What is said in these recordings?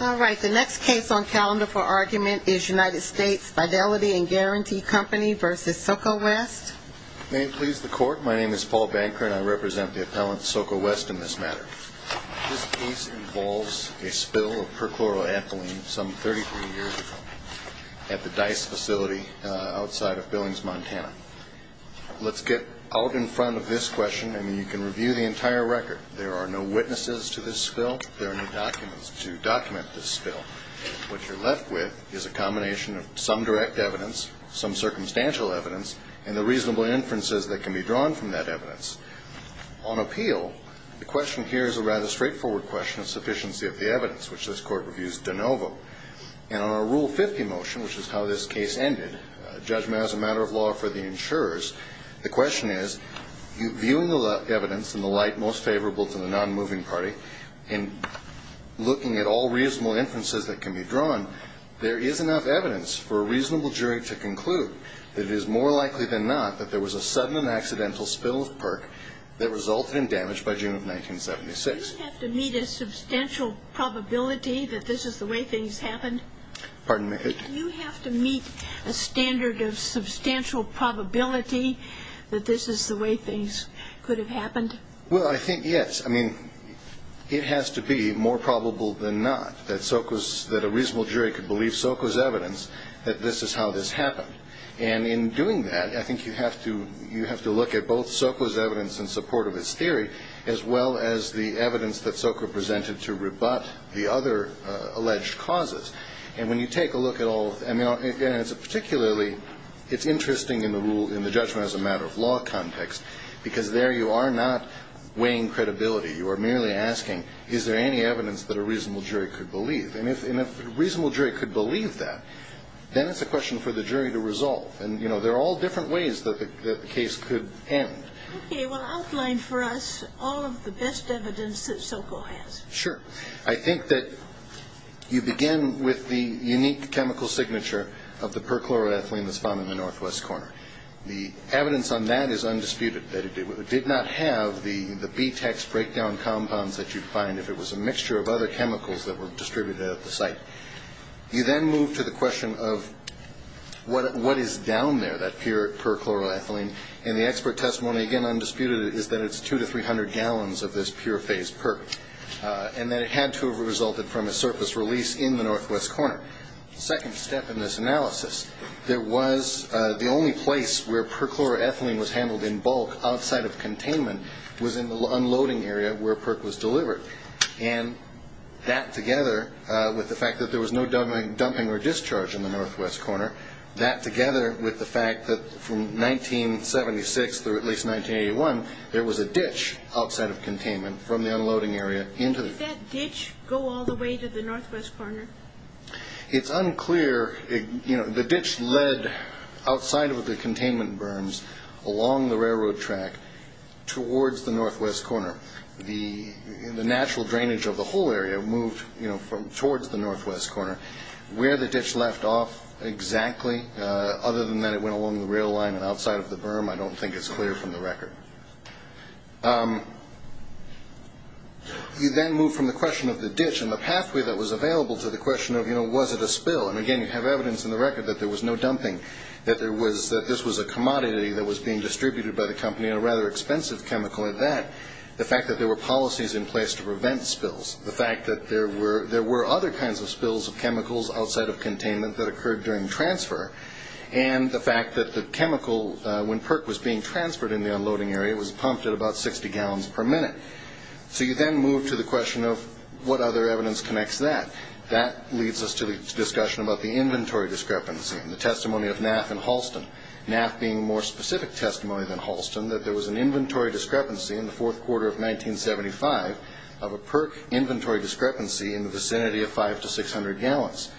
Alright, the next case on calendar for argument is United States Fidelity and Guaranty Company v. Soco West. May it please the court, my name is Paul Banker and I represent the appellant Soco West in this matter. This case involves a spill of perchloroethylene some 33 years ago at the DICE facility outside of Billings, Montana. Let's get out in front of this question and you can review the entire record. There are no witnesses to this spill. There are no documents to document this spill. What you're left with is a combination of some direct evidence, some circumstantial evidence, and the reasonable inferences that can be drawn from that evidence. On appeal, the question here is a rather straightforward question of sufficiency of the evidence, which this court reviews de novo. And on a Rule 50 motion, which is how this case ended, judgment as a matter of law for the insurers, the question is, viewing the evidence in the light most favorable to the non-moving party, and looking at all reasonable inferences that can be drawn, there is enough evidence for a reasonable jury to conclude that it is more likely than not that there was a sudden and accidental spill of perch that resulted in damage by June of 1976. Do you have to meet a substantial probability that this is the way things happened? Pardon me? Do you have to meet a standard of substantial probability that this is the way things could have happened? Well, I think, yes. I mean, it has to be more probable than not that a reasonable jury could believe Soko's evidence that this is how this happened. And in doing that, I think you have to look at both Soko's evidence in support of his theory, as well as the evidence that Soko presented to rebut the other alleged causes. And when you take a look at all of them, and particularly it's interesting in the rule, in the judgment as a matter of law context, because there you are not weighing credibility. You are merely asking, is there any evidence that a reasonable jury could believe? And if a reasonable jury could believe that, then it's a question for the jury to resolve. And, you know, there are all different ways that the case could end. Okay. Well, outline for us all of the best evidence that Soko has. Sure. I think that you begin with the unique chemical signature of the perchloroethylene that's found in the northwest corner. The evidence on that is undisputed, that it did not have the B-tex breakdown compounds that you'd find if it was a mixture of other chemicals that were distributed at the site. You then move to the question of what is down there, that pure perchloroethylene. And the expert testimony, again, undisputed, is that it's 200 to 300 gallons of this pure phase perch. And that it had to have resulted from a surface release in the northwest corner. The second step in this analysis, there was the only place where perchloroethylene was handled in bulk outside of containment was in the unloading area where perch was delivered. And that together with the fact that there was no dumping or discharge in the northwest corner, that together with the fact that from 1976 through at least 1981, there was a ditch outside of containment from the unloading area into the... Did that ditch go all the way to the northwest corner? It's unclear. The ditch led outside of the containment berms along the railroad track towards the northwest corner. The natural drainage of the whole area moved towards the northwest corner. Where the ditch left off exactly, other than that it went along the rail line and outside of the berm, I don't think it's clear from the record. You then move from the question of the ditch and the pathway that was available to the question of, you know, was it a spill? And, again, you have evidence in the record that there was no dumping, that this was a commodity that was being distributed by the company, and a rather expensive chemical in that, the fact that there were policies in place to prevent spills, the fact that there were other kinds of spills of chemicals outside of containment that occurred during transfer, and the fact that the chemical, when PERC was being transferred in the unloading area, was pumped at about 60 gallons per minute. So you then move to the question of what other evidence connects that. That leads us to the discussion about the inventory discrepancy and the testimony of NAF and Halston, NAF being a more specific testimony than Halston, that there was an inventory discrepancy in the fourth quarter of 1975 of a PERC inventory discrepancy in the vicinity of 500 to 600 gallons.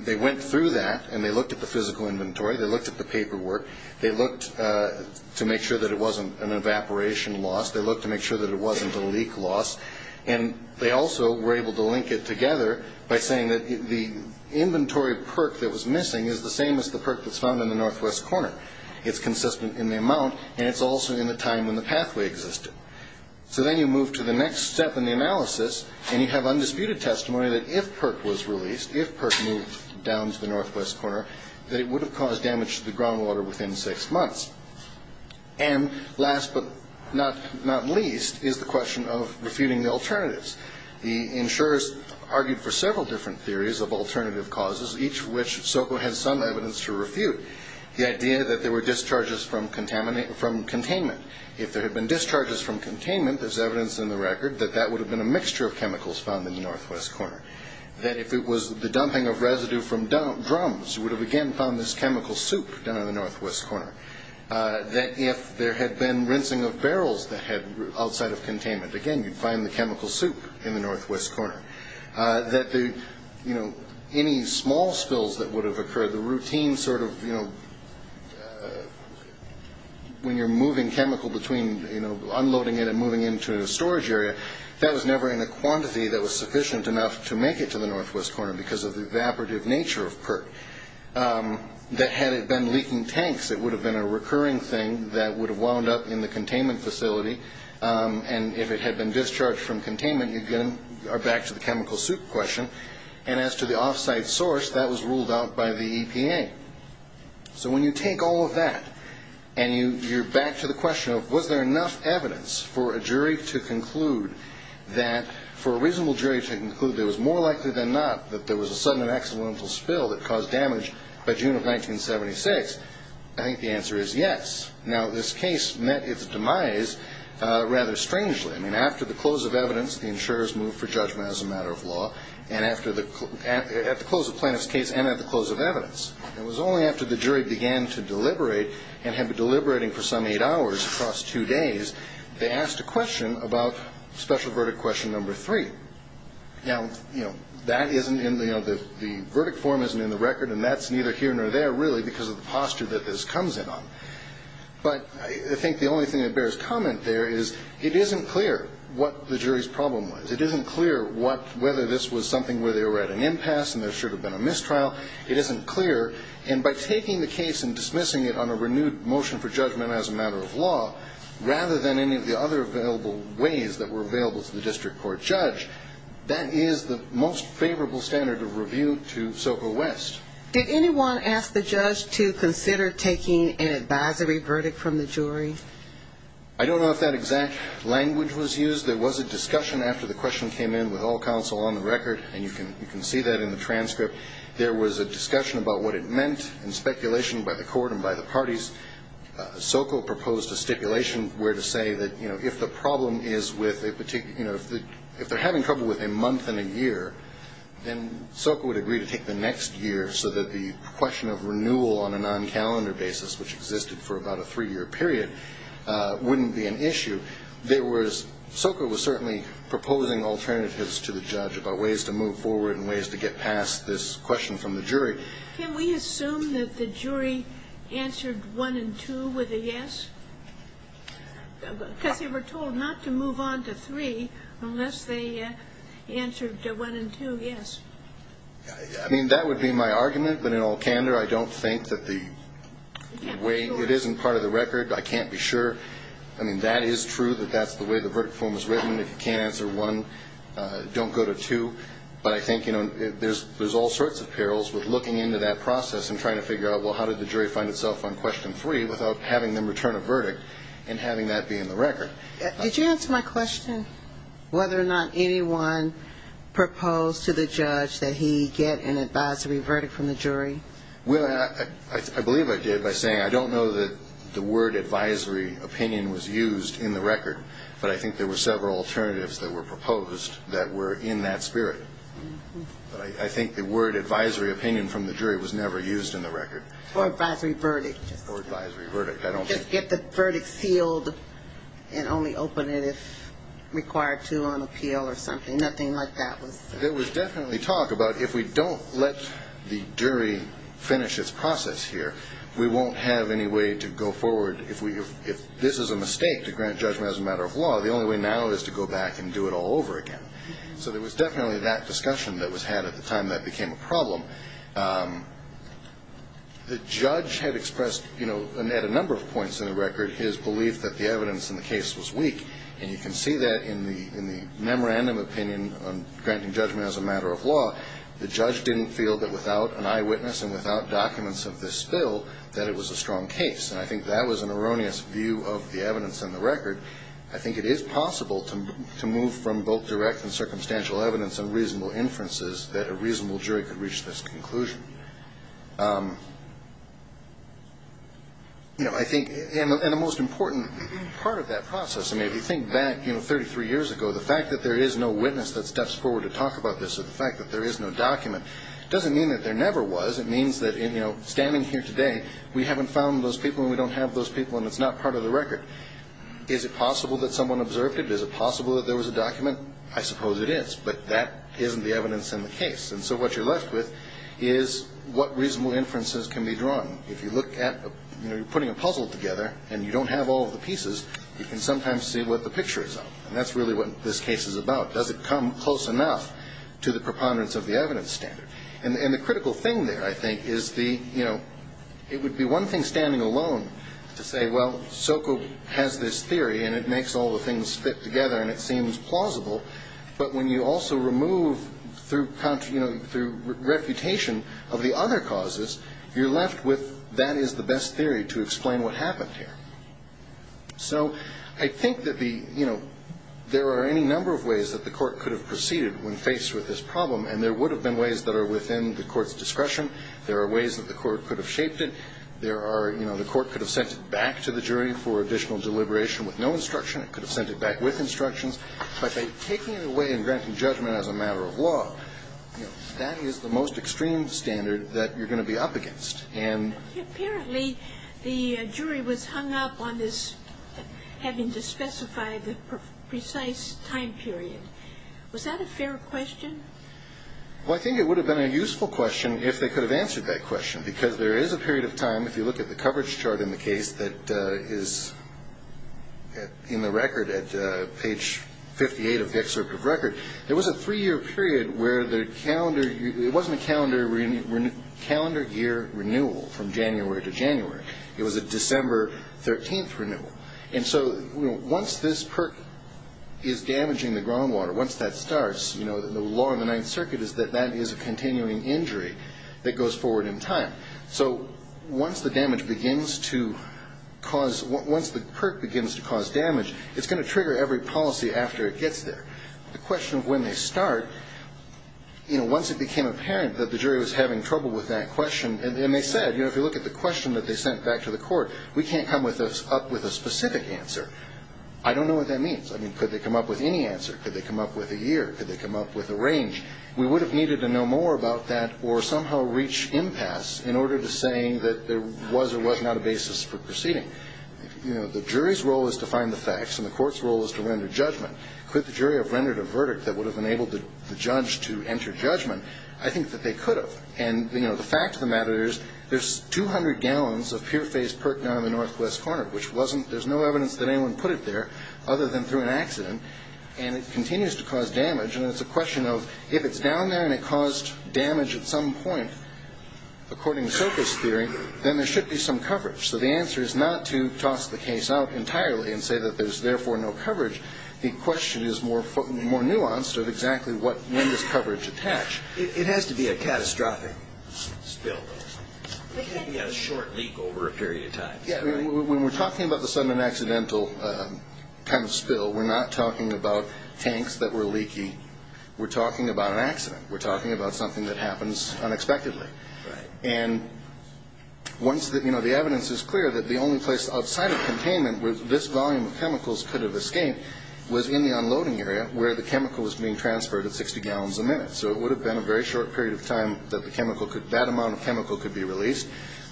They went through that, and they looked at the physical inventory, they looked at the paperwork, they looked to make sure that it wasn't an evaporation loss, they looked to make sure that it wasn't a leak loss, and they also were able to link it together by saying that the inventory PERC that was missing is the same as the PERC that's found in the northwest corner. It's consistent in the amount, and it's also in the time when the pathway existed. So then you move to the next step in the analysis, and you have undisputed testimony that if PERC was released, if PERC moved down to the northwest corner, that it would have caused damage to the groundwater within six months. And last but not least is the question of refuting the alternatives. The insurers argued for several different theories of alternative causes, each of which SOCO had some evidence to refute, the idea that there were discharges from containment. If there had been discharges from containment, there's evidence in the record that that would have been a mixture of chemicals found in the northwest corner. That if it was the dumping of residue from drums, you would have, again, found this chemical soup down in the northwest corner. That if there had been rinsing of barrels that had outside of containment, again, you'd find the chemical soup in the northwest corner. That any small spills that would have occurred, the routine sort of, you know, when you're moving chemical between, you know, unloading it and moving it into a storage area, that was never in a quantity that was sufficient enough to make it to the northwest corner because of the evaporative nature of PERC. That had it been leaking tanks, it would have been a recurring thing that would have wound up in the containment facility, and if it had been discharged from containment, you'd get back to the chemical soup question. And as to the offsite source, that was ruled out by the EPA. So when you take all of that and you're back to the question of, was there enough evidence for a jury to conclude that, for a reasonable jury to conclude that it was more likely than not that there was a sudden and accidental spill that caused damage by June of 1976, I think the answer is yes. Now, this case met its demise rather strangely. I mean, after the close of evidence, the insurers moved for judgment as a matter of law, and at the close of Plano's case and at the close of evidence, it was only after the jury began to deliberate and had been deliberating for some eight hours across two days, they asked a question about special verdict question number three. Now, you know, that isn't in the verdict form, isn't in the record, and that's neither here nor there really because of the posture that this comes in on. But I think the only thing that bears comment there is it isn't clear what the jury's problem was. It isn't clear whether this was something where they were at an impasse and there should have been a mistrial. It isn't clear, and by taking the case and dismissing it on a renewed motion for judgment as a matter of law, rather than any of the other available ways that were available to the district court judge, that is the most favorable standard of review to Soka West. Did anyone ask the judge to consider taking an advisory verdict from the jury? I don't know if that exact language was used. There was a discussion after the question came in with all counsel on the record, and you can see that in the transcript. There was a discussion about what it meant and speculation by the court and by the parties. Soka proposed a stipulation where to say that, you know, if the problem is with a particular, you know, if they're having trouble with a month and a year, then Soka would agree to take the next year so that the question of renewal on a non-calendar basis, which existed for about a three-year period, wouldn't be an issue. There was, Soka was certainly proposing alternatives to the judge about ways to move forward and ways to get past this question from the jury. Can we assume that the jury answered 1 and 2 with a yes? Because they were told not to move on to 3 unless they answered 1 and 2 yes. I mean, that would be my argument. But in all candor, I don't think that the way it is in part of the record. I can't be sure. I mean, that is true that that's the way the verdict form is written. If you can't answer 1, don't go to 2. But I think, you know, there's all sorts of perils with looking into that process and trying to figure out, well, how did the jury find itself on question 3 without having them return a verdict and having that be in the record. Did you answer my question, whether or not anyone proposed to the judge that he get an advisory verdict from the jury? Well, I believe I did by saying I don't know that the word advisory opinion was used in the record. But I think there were several alternatives that were proposed that were in that spirit. But I think the word advisory opinion from the jury was never used in the record. Or advisory verdict. Or advisory verdict. I don't think. Just get the verdict sealed and only open it if required to on appeal or something. Nothing like that was. There was definitely talk about if we don't let the jury finish its process here, we won't have any way to go forward. If this is a mistake to grant judgment as a matter of law, the only way now is to go back and do it all over again. So there was definitely that discussion that was had at the time that became a problem. The judge had expressed, you know, at a number of points in the record, his belief that the evidence in the case was weak. And you can see that in the memorandum opinion on granting judgment as a matter of law. The judge didn't feel that without an eyewitness and without documents of this bill, that it was a strong case. And I think that was an erroneous view of the evidence in the record. I think it is possible to move from both direct and circumstantial evidence and reasonable inferences that a reasonable jury could reach this conclusion. You know, I think, and the most important part of that process, I mean, if you think back, you know, 33 years ago, the fact that there is no witness that steps forward to talk about this or the fact that there is no document doesn't mean that there never was. It means that, you know, standing here today, we haven't found those people and we don't have those people and it's not part of the record. Is it possible that someone observed it? Is it possible that there was a document? I suppose it is, but that isn't the evidence in the case. And so what you're left with is what reasonable inferences can be drawn. If you look at putting a puzzle together and you don't have all of the pieces, you can sometimes see what the picture is of. And that's really what this case is about. Does it come close enough to the preponderance of the evidence standard? And the critical thing there, I think, is the, you know, it would be one thing standing alone to say, well, SOCO has this theory and it makes all the things fit together and it seems plausible. But when you also remove through, you know, through refutation of the other causes, you're left with that is the best theory to explain what happened here. So I think that the, you know, there are any number of ways that the court could have proceeded when faced with this problem. And there would have been ways that are within the court's discretion. There are ways that the court could have shaped it. There are, you know, the court could have sent it back to the jury for additional deliberation with no instruction. It could have sent it back with instructions. But by taking it away and granting judgment as a matter of law, that is the most extreme standard that you're going to be up against. Apparently, the jury was hung up on this having to specify the precise time period. Was that a fair question? Well, I think it would have been a useful question if they could have answered that question. Because there is a period of time, if you look at the coverage chart in the case, that is in the record at page 58 of the excerpt of record. There was a three-year period where the calendar, it wasn't a calendar year renewal from January to January. It was a December 13th renewal. And so once this PERC is damaging the groundwater, once that starts, you know, the law in the Ninth Circuit is that that is a continuing injury that goes forward in time. So once the damage begins to cause, once the PERC begins to cause damage, it's going to trigger every policy after it gets there. The question of when they start, you know, once it became apparent that the jury was having trouble with that question, and they said, you know, if you look at the question that they sent back to the court, we can't come up with a specific answer. I don't know what that means. I mean, could they come up with any answer? Could they come up with a year? Could they come up with a range? We would have needed to know more about that or somehow reach impasse in order to say that there was or was not a basis for proceeding. You know, the jury's role is to find the facts and the court's role is to render judgment. Could the jury have rendered a verdict that would have enabled the judge to enter judgment? I think that they could have. And, you know, the fact of the matter is there's 200 gallons of pure phase PERC down in the northwest corner, which wasn't ñ there's no evidence that anyone put it there other than through an accident, and it continues to cause damage. And it's a question of if it's down there and it caused damage at some point, according to Soka's theory, then there should be some coverage. So the answer is not to toss the case out entirely and say that there's therefore no coverage. The question is more nuanced of exactly when does coverage attach. It has to be a catastrophic spill, though. It can't be a short leak over a period of time. Yeah. When we're talking about the sudden accidental kind of spill, we're not talking about tanks that were leaky. We're talking about an accident. We're talking about something that happens unexpectedly. Right. And once the evidence is clear that the only place outside of containment where this volume of chemicals could have escaped was in the unloading area where the chemical was being transferred at 60 gallons a minute. So it would have been a very short period of time that the chemical could ñ that amount of chemical could be released.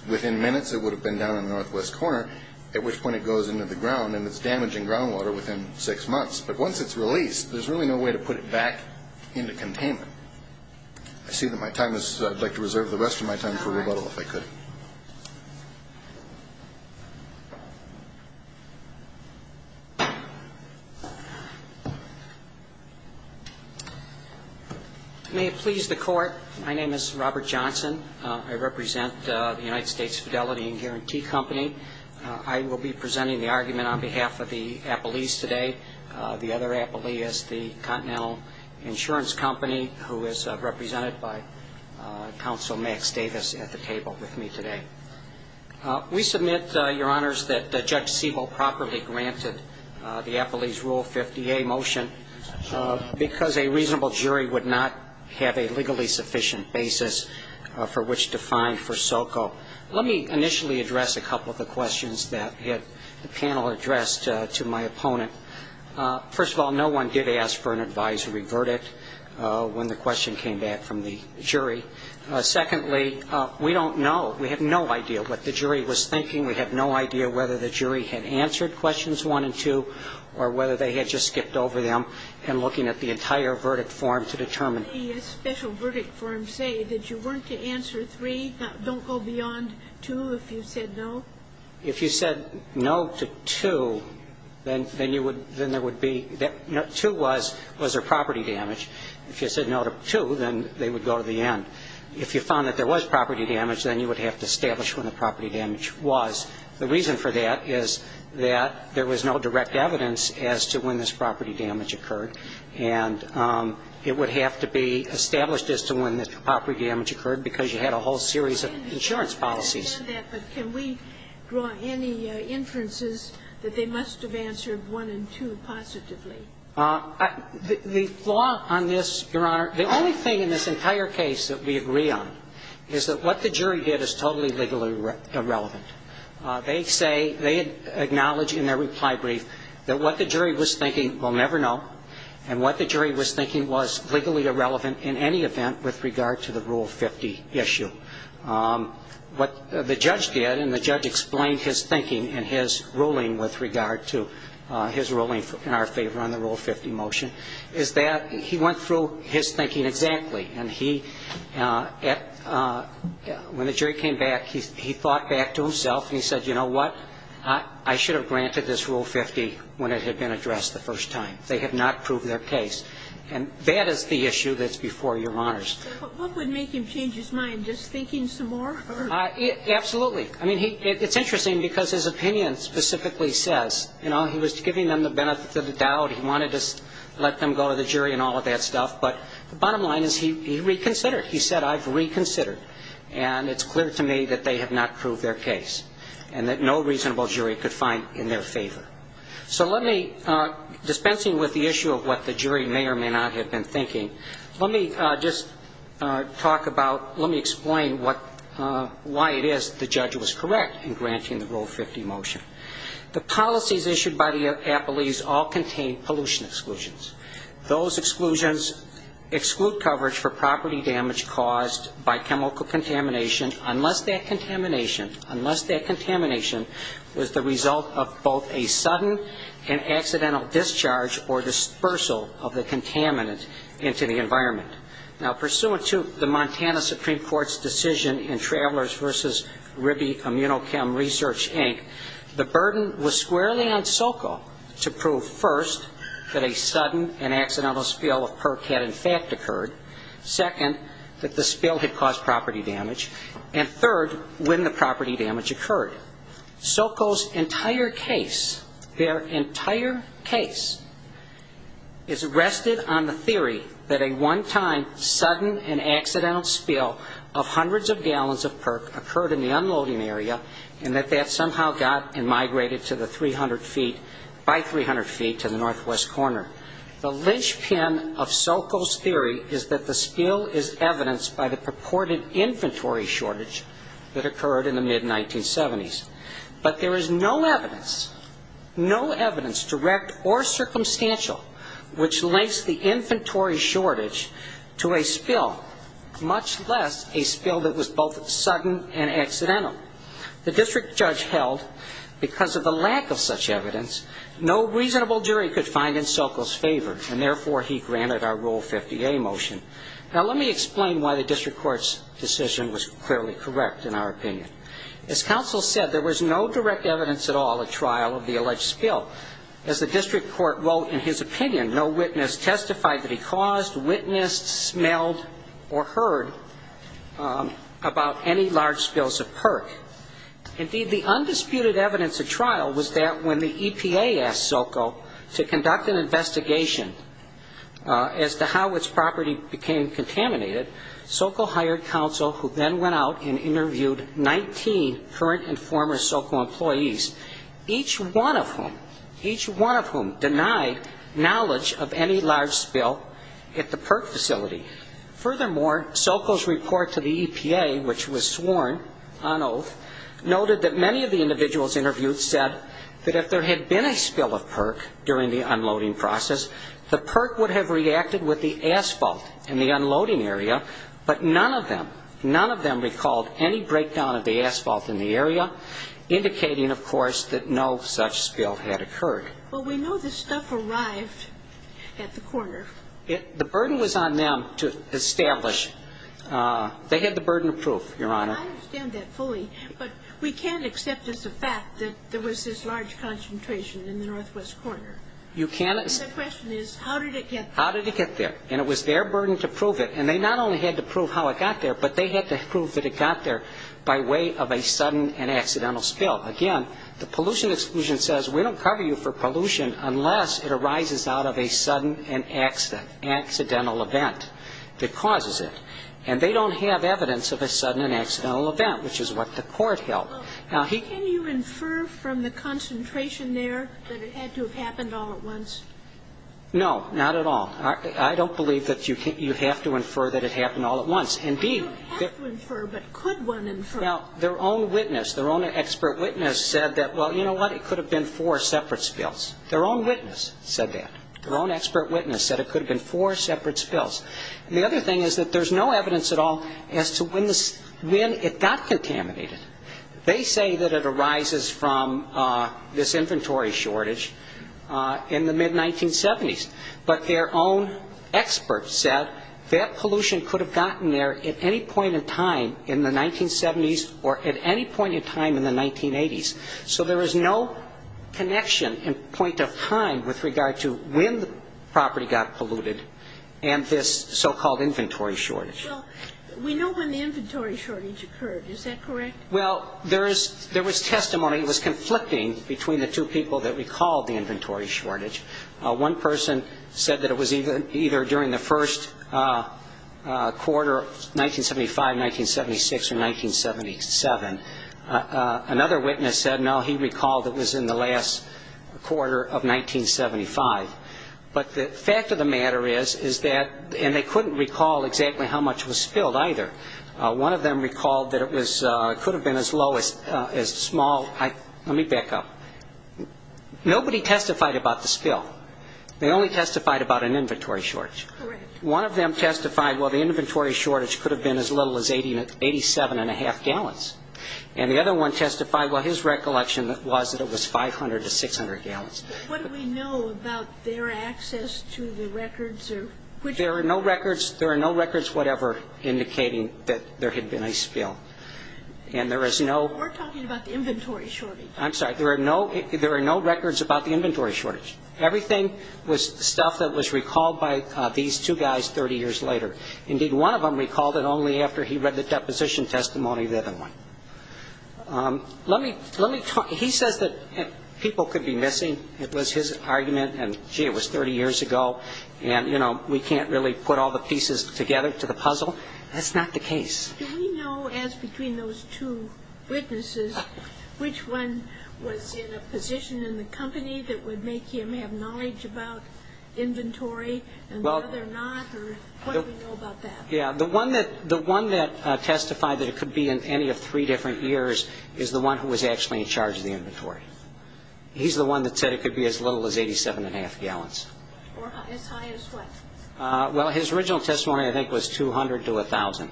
Within minutes it would have been down in the northwest corner, at which point it goes into the ground and it's damaging groundwater within six months. But once it's released, there's really no way to put it back into containment. I see that my time is ñ I'd like to reserve the rest of my time for rebuttal if I could. All right. May it please the Court, my name is Robert Johnson. I represent the United States Fidelity and Guarantee Company. I will be presenting the argument on behalf of the appellees today. The other appellee is the Continental Insurance Company, who is represented by Counsel Max Davis at the table with me today. We submit, Your Honors, that Judge Siebel properly granted the appellee's Rule 50A motion because a reasonable jury would not have a legally sufficient basis for which to find for SOCO. Let me initially address a couple of the questions that the panel addressed to my opponent. First of all, no one did ask for an advisory verdict when the question came back from the jury. Secondly, we don't know, we have no idea what the jury was thinking. We have no idea whether the jury had answered questions one and two or whether they had just skipped over them in looking at the entire verdict form to determine. Did the special verdict form say that you weren't to answer three, don't go beyond two if you said no? If you said no to two, then there would be, two was their property damage. If you said no to two, then they would go to the end. If you found that there was property damage, then you would have to establish when the property damage was. The reason for that is that there was no direct evidence as to when this property damage occurred, and it would have to be established as to when this property damage occurred because you had a whole series of insurance policies. I understand that, but can we draw any inferences that they must have answered one and two positively? The flaw on this, Your Honor, the only thing in this entire case that we agree on is that what the jury did is totally legally irrelevant. They say, they acknowledge in their reply brief that what the jury was thinking we'll never know and what the jury was thinking was legally irrelevant in any event with regard to the Rule 50 issue. What the judge did, and the judge explained his thinking in his ruling with regard to his ruling in our favor on the Rule 50 motion, is that he went through his thinking exactly. And he, when the jury came back, he thought back to himself and he said, you know what, I should have granted this Rule 50 when it had been addressed the first time. They had not proved their case. And that is the issue that's before Your Honors. But what would make him change his mind, just thinking some more? Absolutely. I mean, it's interesting because his opinion specifically says, you know, he was giving them the benefit of the doubt. He wanted to let them go to the jury and all of that stuff. But the bottom line is he reconsidered. He said, I've reconsidered. And it's clear to me that they have not proved their case and that no reasonable jury could find in their favor. So let me, dispensing with the issue of what the jury may or may not have been thinking, let me just talk about, let me explain what, why it is the judge was correct in granting the Rule 50 motion. The policies issued by the appellees all contain pollution exclusions. Those exclusions exclude coverage for property damage caused by chemical contamination unless that contamination, unless that contamination was the result of both a sudden and accidental discharge or dispersal of the contaminant into the environment. Now, pursuant to the Montana Supreme Court's decision in Travelers v. Ribby Immunochem Research, Inc., the burden was squarely on Sokol to prove first that a sudden and accidental spill of perc had in fact occurred, second, that the spill had caused property damage, and third, when the property damage occurred. Sokol's entire case, their entire case, is rested on the theory that a one-time sudden and accidental spill of hundreds of gallons of perc occurred in the unloading area and that that somehow got and migrated to the 300 feet, by 300 feet, to the northwest corner. The linchpin of Sokol's theory is that the spill is evidenced by the purported inventory shortage that occurred in the mid-1970s. But there is no evidence, no evidence, direct or circumstantial, which links the inventory shortage to a spill, much less a spill that was both sudden and accidental. The district judge held, because of the lack of such evidence, no reasonable jury could find in Sokol's favor, and therefore he granted our Rule 50A motion. Now, let me explain why the district court's decision was clearly correct, in our opinion. As counsel said, there was no direct evidence at all at trial of the alleged spill. As the district court wrote in his opinion, no witness testified that he caused, witnessed, smelled, or heard about any large spills of perc. Indeed, the undisputed evidence at trial was that when the EPA asked Sokol to conduct an investigation as to how its property became contaminated, Sokol hired counsel who then went out and interviewed 19 current and former Sokol employees, each one of whom, each one of whom denied knowledge of any large spill at the perc facility. Furthermore, Sokol's report to the EPA, which was sworn on oath, noted that many of the individuals interviewed said that if there had been a spill of perc during the unloading process, the perc would have reacted with the asphalt in the unloading area, but none of them, none of them recalled any breakdown of the asphalt in the area, indicating, of course, that no such spill had occurred. Well, we know the stuff arrived at the corner. The burden was on them to establish. They had the burden of proof, Your Honor. I understand that fully, but we can't accept as a fact that there was this large concentration in the northwest corner. You can't. And the question is, how did it get there? How did it get there? And it was their burden to prove it. And they not only had to prove how it got there, but they had to prove that it got there by way of a sudden and accidental spill. Again, the pollution exclusion says we don't cover you for pollution unless it arises out of a sudden and accidental event that causes it. And they don't have evidence of a sudden and accidental event, which is what the court held. Now, he can't. Can you infer from the concentration there that it had to have happened all at once? No, not at all. I don't believe that you have to infer that it happened all at once. Indeed. I don't have to infer, but could one infer? Well, their own witness, their own expert witness said that, well, you know what? It could have been four separate spills. Their own witness said that. Their own expert witness said it could have been four separate spills. And the other thing is that there's no evidence at all as to when it got contaminated. They say that it arises from this inventory shortage in the mid-1970s. But their own expert said that pollution could have gotten there at any point in time in the 1970s or at any point in time in the 1980s. So there is no connection in point of time with regard to when the property got polluted and this so-called inventory shortage. Well, we know when the inventory shortage occurred. Is that correct? Well, there was testimony. It was conflicting between the two people that recalled the inventory shortage. One person said that it was either during the first quarter of 1975, 1976, or 1977. Another witness said, no, he recalled it was in the last quarter of 1975. But the fact of the matter is that they couldn't recall exactly how much was spilled either. One of them recalled that it could have been as low as small. Let me back up. Nobody testified about the spill. They only testified about an inventory shortage. Correct. One of them testified, well, the inventory shortage could have been as little as 87.5 gallons. And the other one testified, well, his recollection was that it was 500 to 600 gallons. What do we know about their access to the records or which records? There are no records, whatever, indicating that there had been a spill. We're talking about the inventory shortage. I'm sorry, there are no records about the inventory shortage. Everything was stuff that was recalled by these two guys 30 years later. Indeed, one of them recalled it only after he read the deposition testimony of the other one. He says that people could be missing. It was his argument, and, gee, it was 30 years ago, and, you know, we can't really put all the pieces together to the puzzle. That's not the case. Do we know, as between those two witnesses, which one was in a position in the company that would make him have knowledge about inventory and the other not, or what do we know about that? Yeah, the one that testified that it could be in any of three different years is the one who was actually in charge of the inventory. He's the one that said it could be as little as 87.5 gallons. Or as high as what? Well, his original testimony, I think, was 200 to 1,000.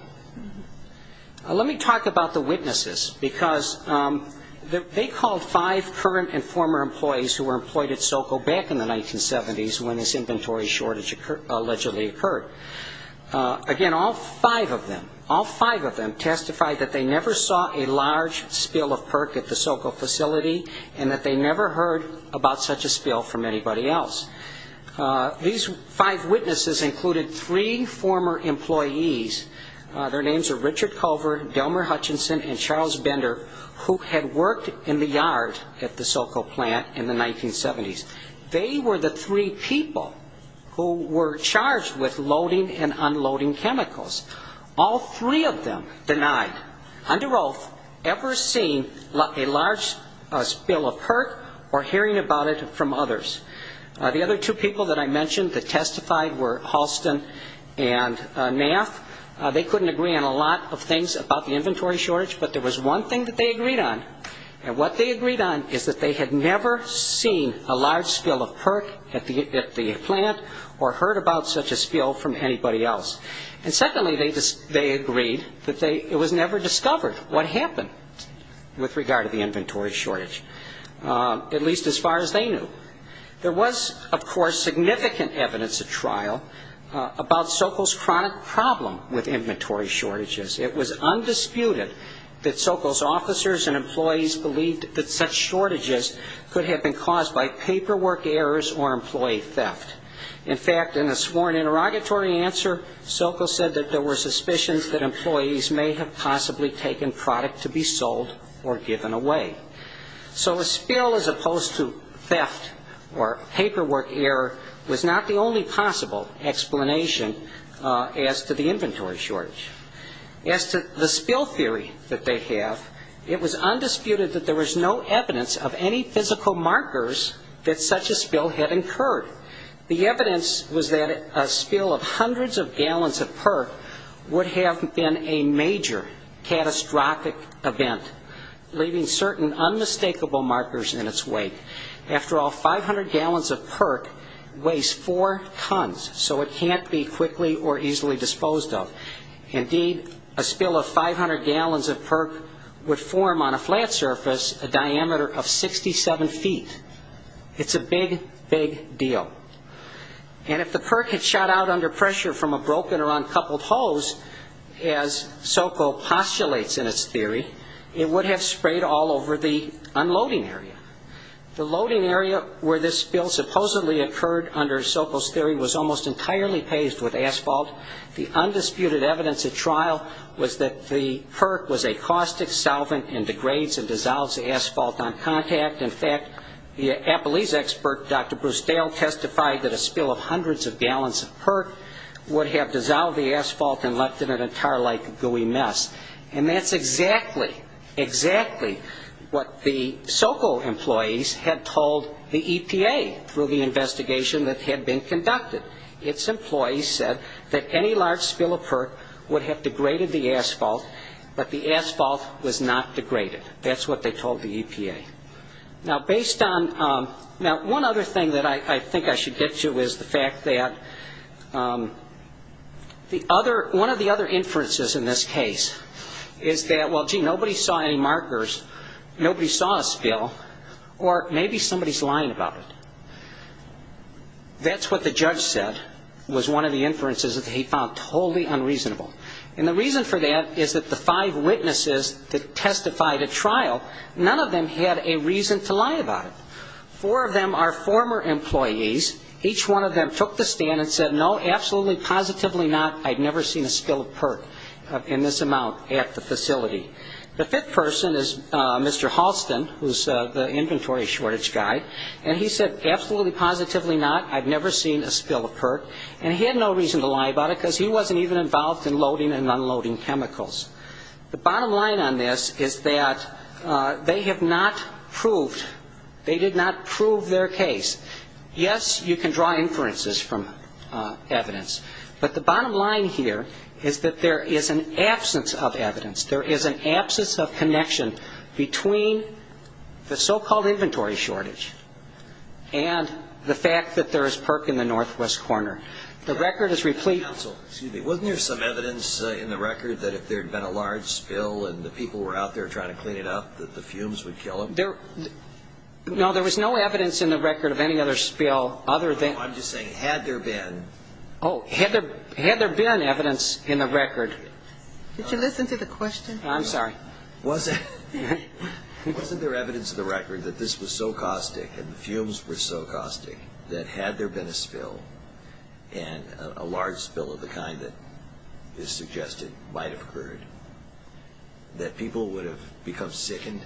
Let me talk about the witnesses, because they called five current and former employees who were employed at SoCo back in the 1970s when this inventory shortage allegedly occurred. Again, all five of them testified that they never saw a large spill of PERC at the SoCo facility and that they never heard about such a spill from anybody else. These five witnesses included three former employees. Their names are Richard Culver, Delmer Hutchinson, and Charles Bender, who had worked in the yard at the SoCo plant in the 1970s. They were the three people who were charged with loading and unloading chemicals. All three of them denied, under oath, ever seeing a large spill of PERC or hearing about it from others. The other two people that I mentioned that testified were Halston and Nath. They couldn't agree on a lot of things about the inventory shortage, but there was one thing that they agreed on. And what they agreed on is that they had never seen a large spill of PERC at the plant or heard about such a spill from anybody else. And secondly, they agreed that it was never discovered what happened with regard to the inventory shortage, at least as far as they knew. There was, of course, significant evidence at trial about SoCo's chronic problem with inventory shortages. It was undisputed that SoCo's officers and employees believed that such shortages could have been caused by paperwork errors or employee theft. In fact, in a sworn interrogatory answer, SoCo said that there were suspicions that employees may have possibly taken product to be sold or given away. So a spill as opposed to theft or paperwork error was not the only possible explanation as to the inventory shortage. As to the spill theory that they have, it was undisputed that there was no evidence of any physical markers that such a spill had incurred. The evidence was that a spill of hundreds of gallons of PERC would have been a major catastrophic event, leaving certain unmistakable markers in its wake. After all, 500 gallons of PERC weighs four tons, so it can't be quickly or easily disposed of. Indeed, a spill of 500 gallons of PERC would form on a flat surface a diameter of 67 feet. It's a big, big deal. And if the PERC had shot out under pressure from a broken or uncoupled hose, as SoCo postulates in its theory, it would have sprayed all over the unloading area. The loading area where this spill supposedly occurred under SoCo's theory was almost entirely paved with asphalt. The undisputed evidence at trial was that the PERC was a caustic solvent and degrades and dissolves the asphalt on contact. In fact, the Appalachia expert, Dr. Bruce Dale, testified that a spill of hundreds of gallons of PERC would have dissolved the asphalt and left it in a tar-like gooey mess. And that's exactly, exactly what the SoCo employees had told the EPA through the investigation that had been conducted. Its employees said that any large spill of PERC would have degraded the asphalt, but the asphalt was not degraded. That's what they told the EPA. Now, one other thing that I think I should get to is the fact that one of the other inferences in this case is that, well, gee, nobody saw any markers, nobody saw a spill, or maybe somebody's lying about it. That's what the judge said was one of the inferences that he found totally unreasonable. And the reason for that is that the five witnesses that testified at trial, none of them had a reason to lie about it. Four of them are former employees. Each one of them took the stand and said, no, absolutely, positively not, I've never seen a spill of PERC in this amount at the facility. The fifth person is Mr. Halston, who's the inventory shortage guy, and he said, absolutely, positively not, I've never seen a spill of PERC. And he had no reason to lie about it because he wasn't even involved in loading and unloading chemicals. The bottom line on this is that they have not proved, they did not prove their case. Yes, you can draw inferences from evidence, but the bottom line here is that there is an absence of evidence, there is an absence of connection between the so-called inventory shortage and the fact that there is PERC in the northwest corner. The record is replete. Excuse me. Wasn't there some evidence in the record that if there had been a large spill and the people were out there trying to clean it up, that the fumes would kill them? No, there was no evidence in the record of any other spill other than... I'm just saying, had there been... Oh, had there been evidence in the record. Could you listen to the question? I'm sorry. Wasn't there evidence in the record that this was so caustic and the fumes were so caustic that had there been a spill and a large spill of the kind that is suggested might have occurred, that people would have become sickened?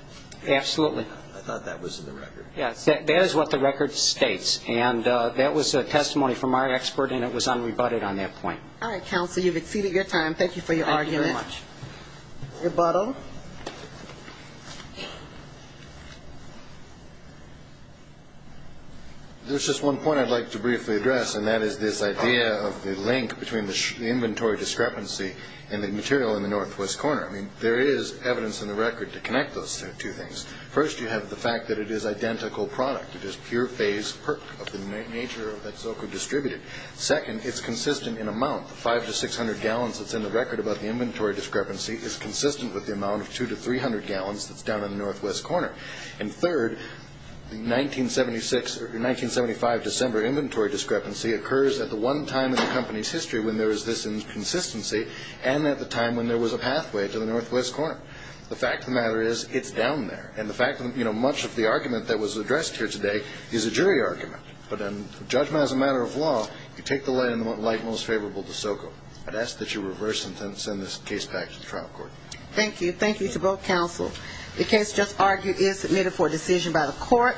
Absolutely. I thought that was in the record. Yes, that is what the record states, and that was a testimony from our expert and it was unrebutted on that point. All right, Counsel, you've exceeded your time. Thank you for your argument. Thank you very much. Rebuttal. There's just one point I'd like to briefly address, and that is this idea of the link between the inventory discrepancy and the material in the northwest corner. I mean, there is evidence in the record to connect those two things. First, you have the fact that it is identical product. It is pure phase perc of the nature that Zoka distributed. Second, it's consistent in amount. The 5 to 600 gallons that's in the record about the inventory discrepancy is consistent with the amount of 2 to 300 gallons that's down in the northwest corner. And third, the 1975 December inventory discrepancy occurs at the one time in the company's history when there was this inconsistency and at the time when there was a pathway to the northwest corner. The fact of the matter is it's down there, and the fact that much of the argument that was addressed here today is a jury argument. But judgment as a matter of law, you take the lay of the land most favorable to Zoka. I'd ask that you reverse and send this case back to the trial court. Thank you. Thank you to both counsel. The case just argued is submitted for decision by the court.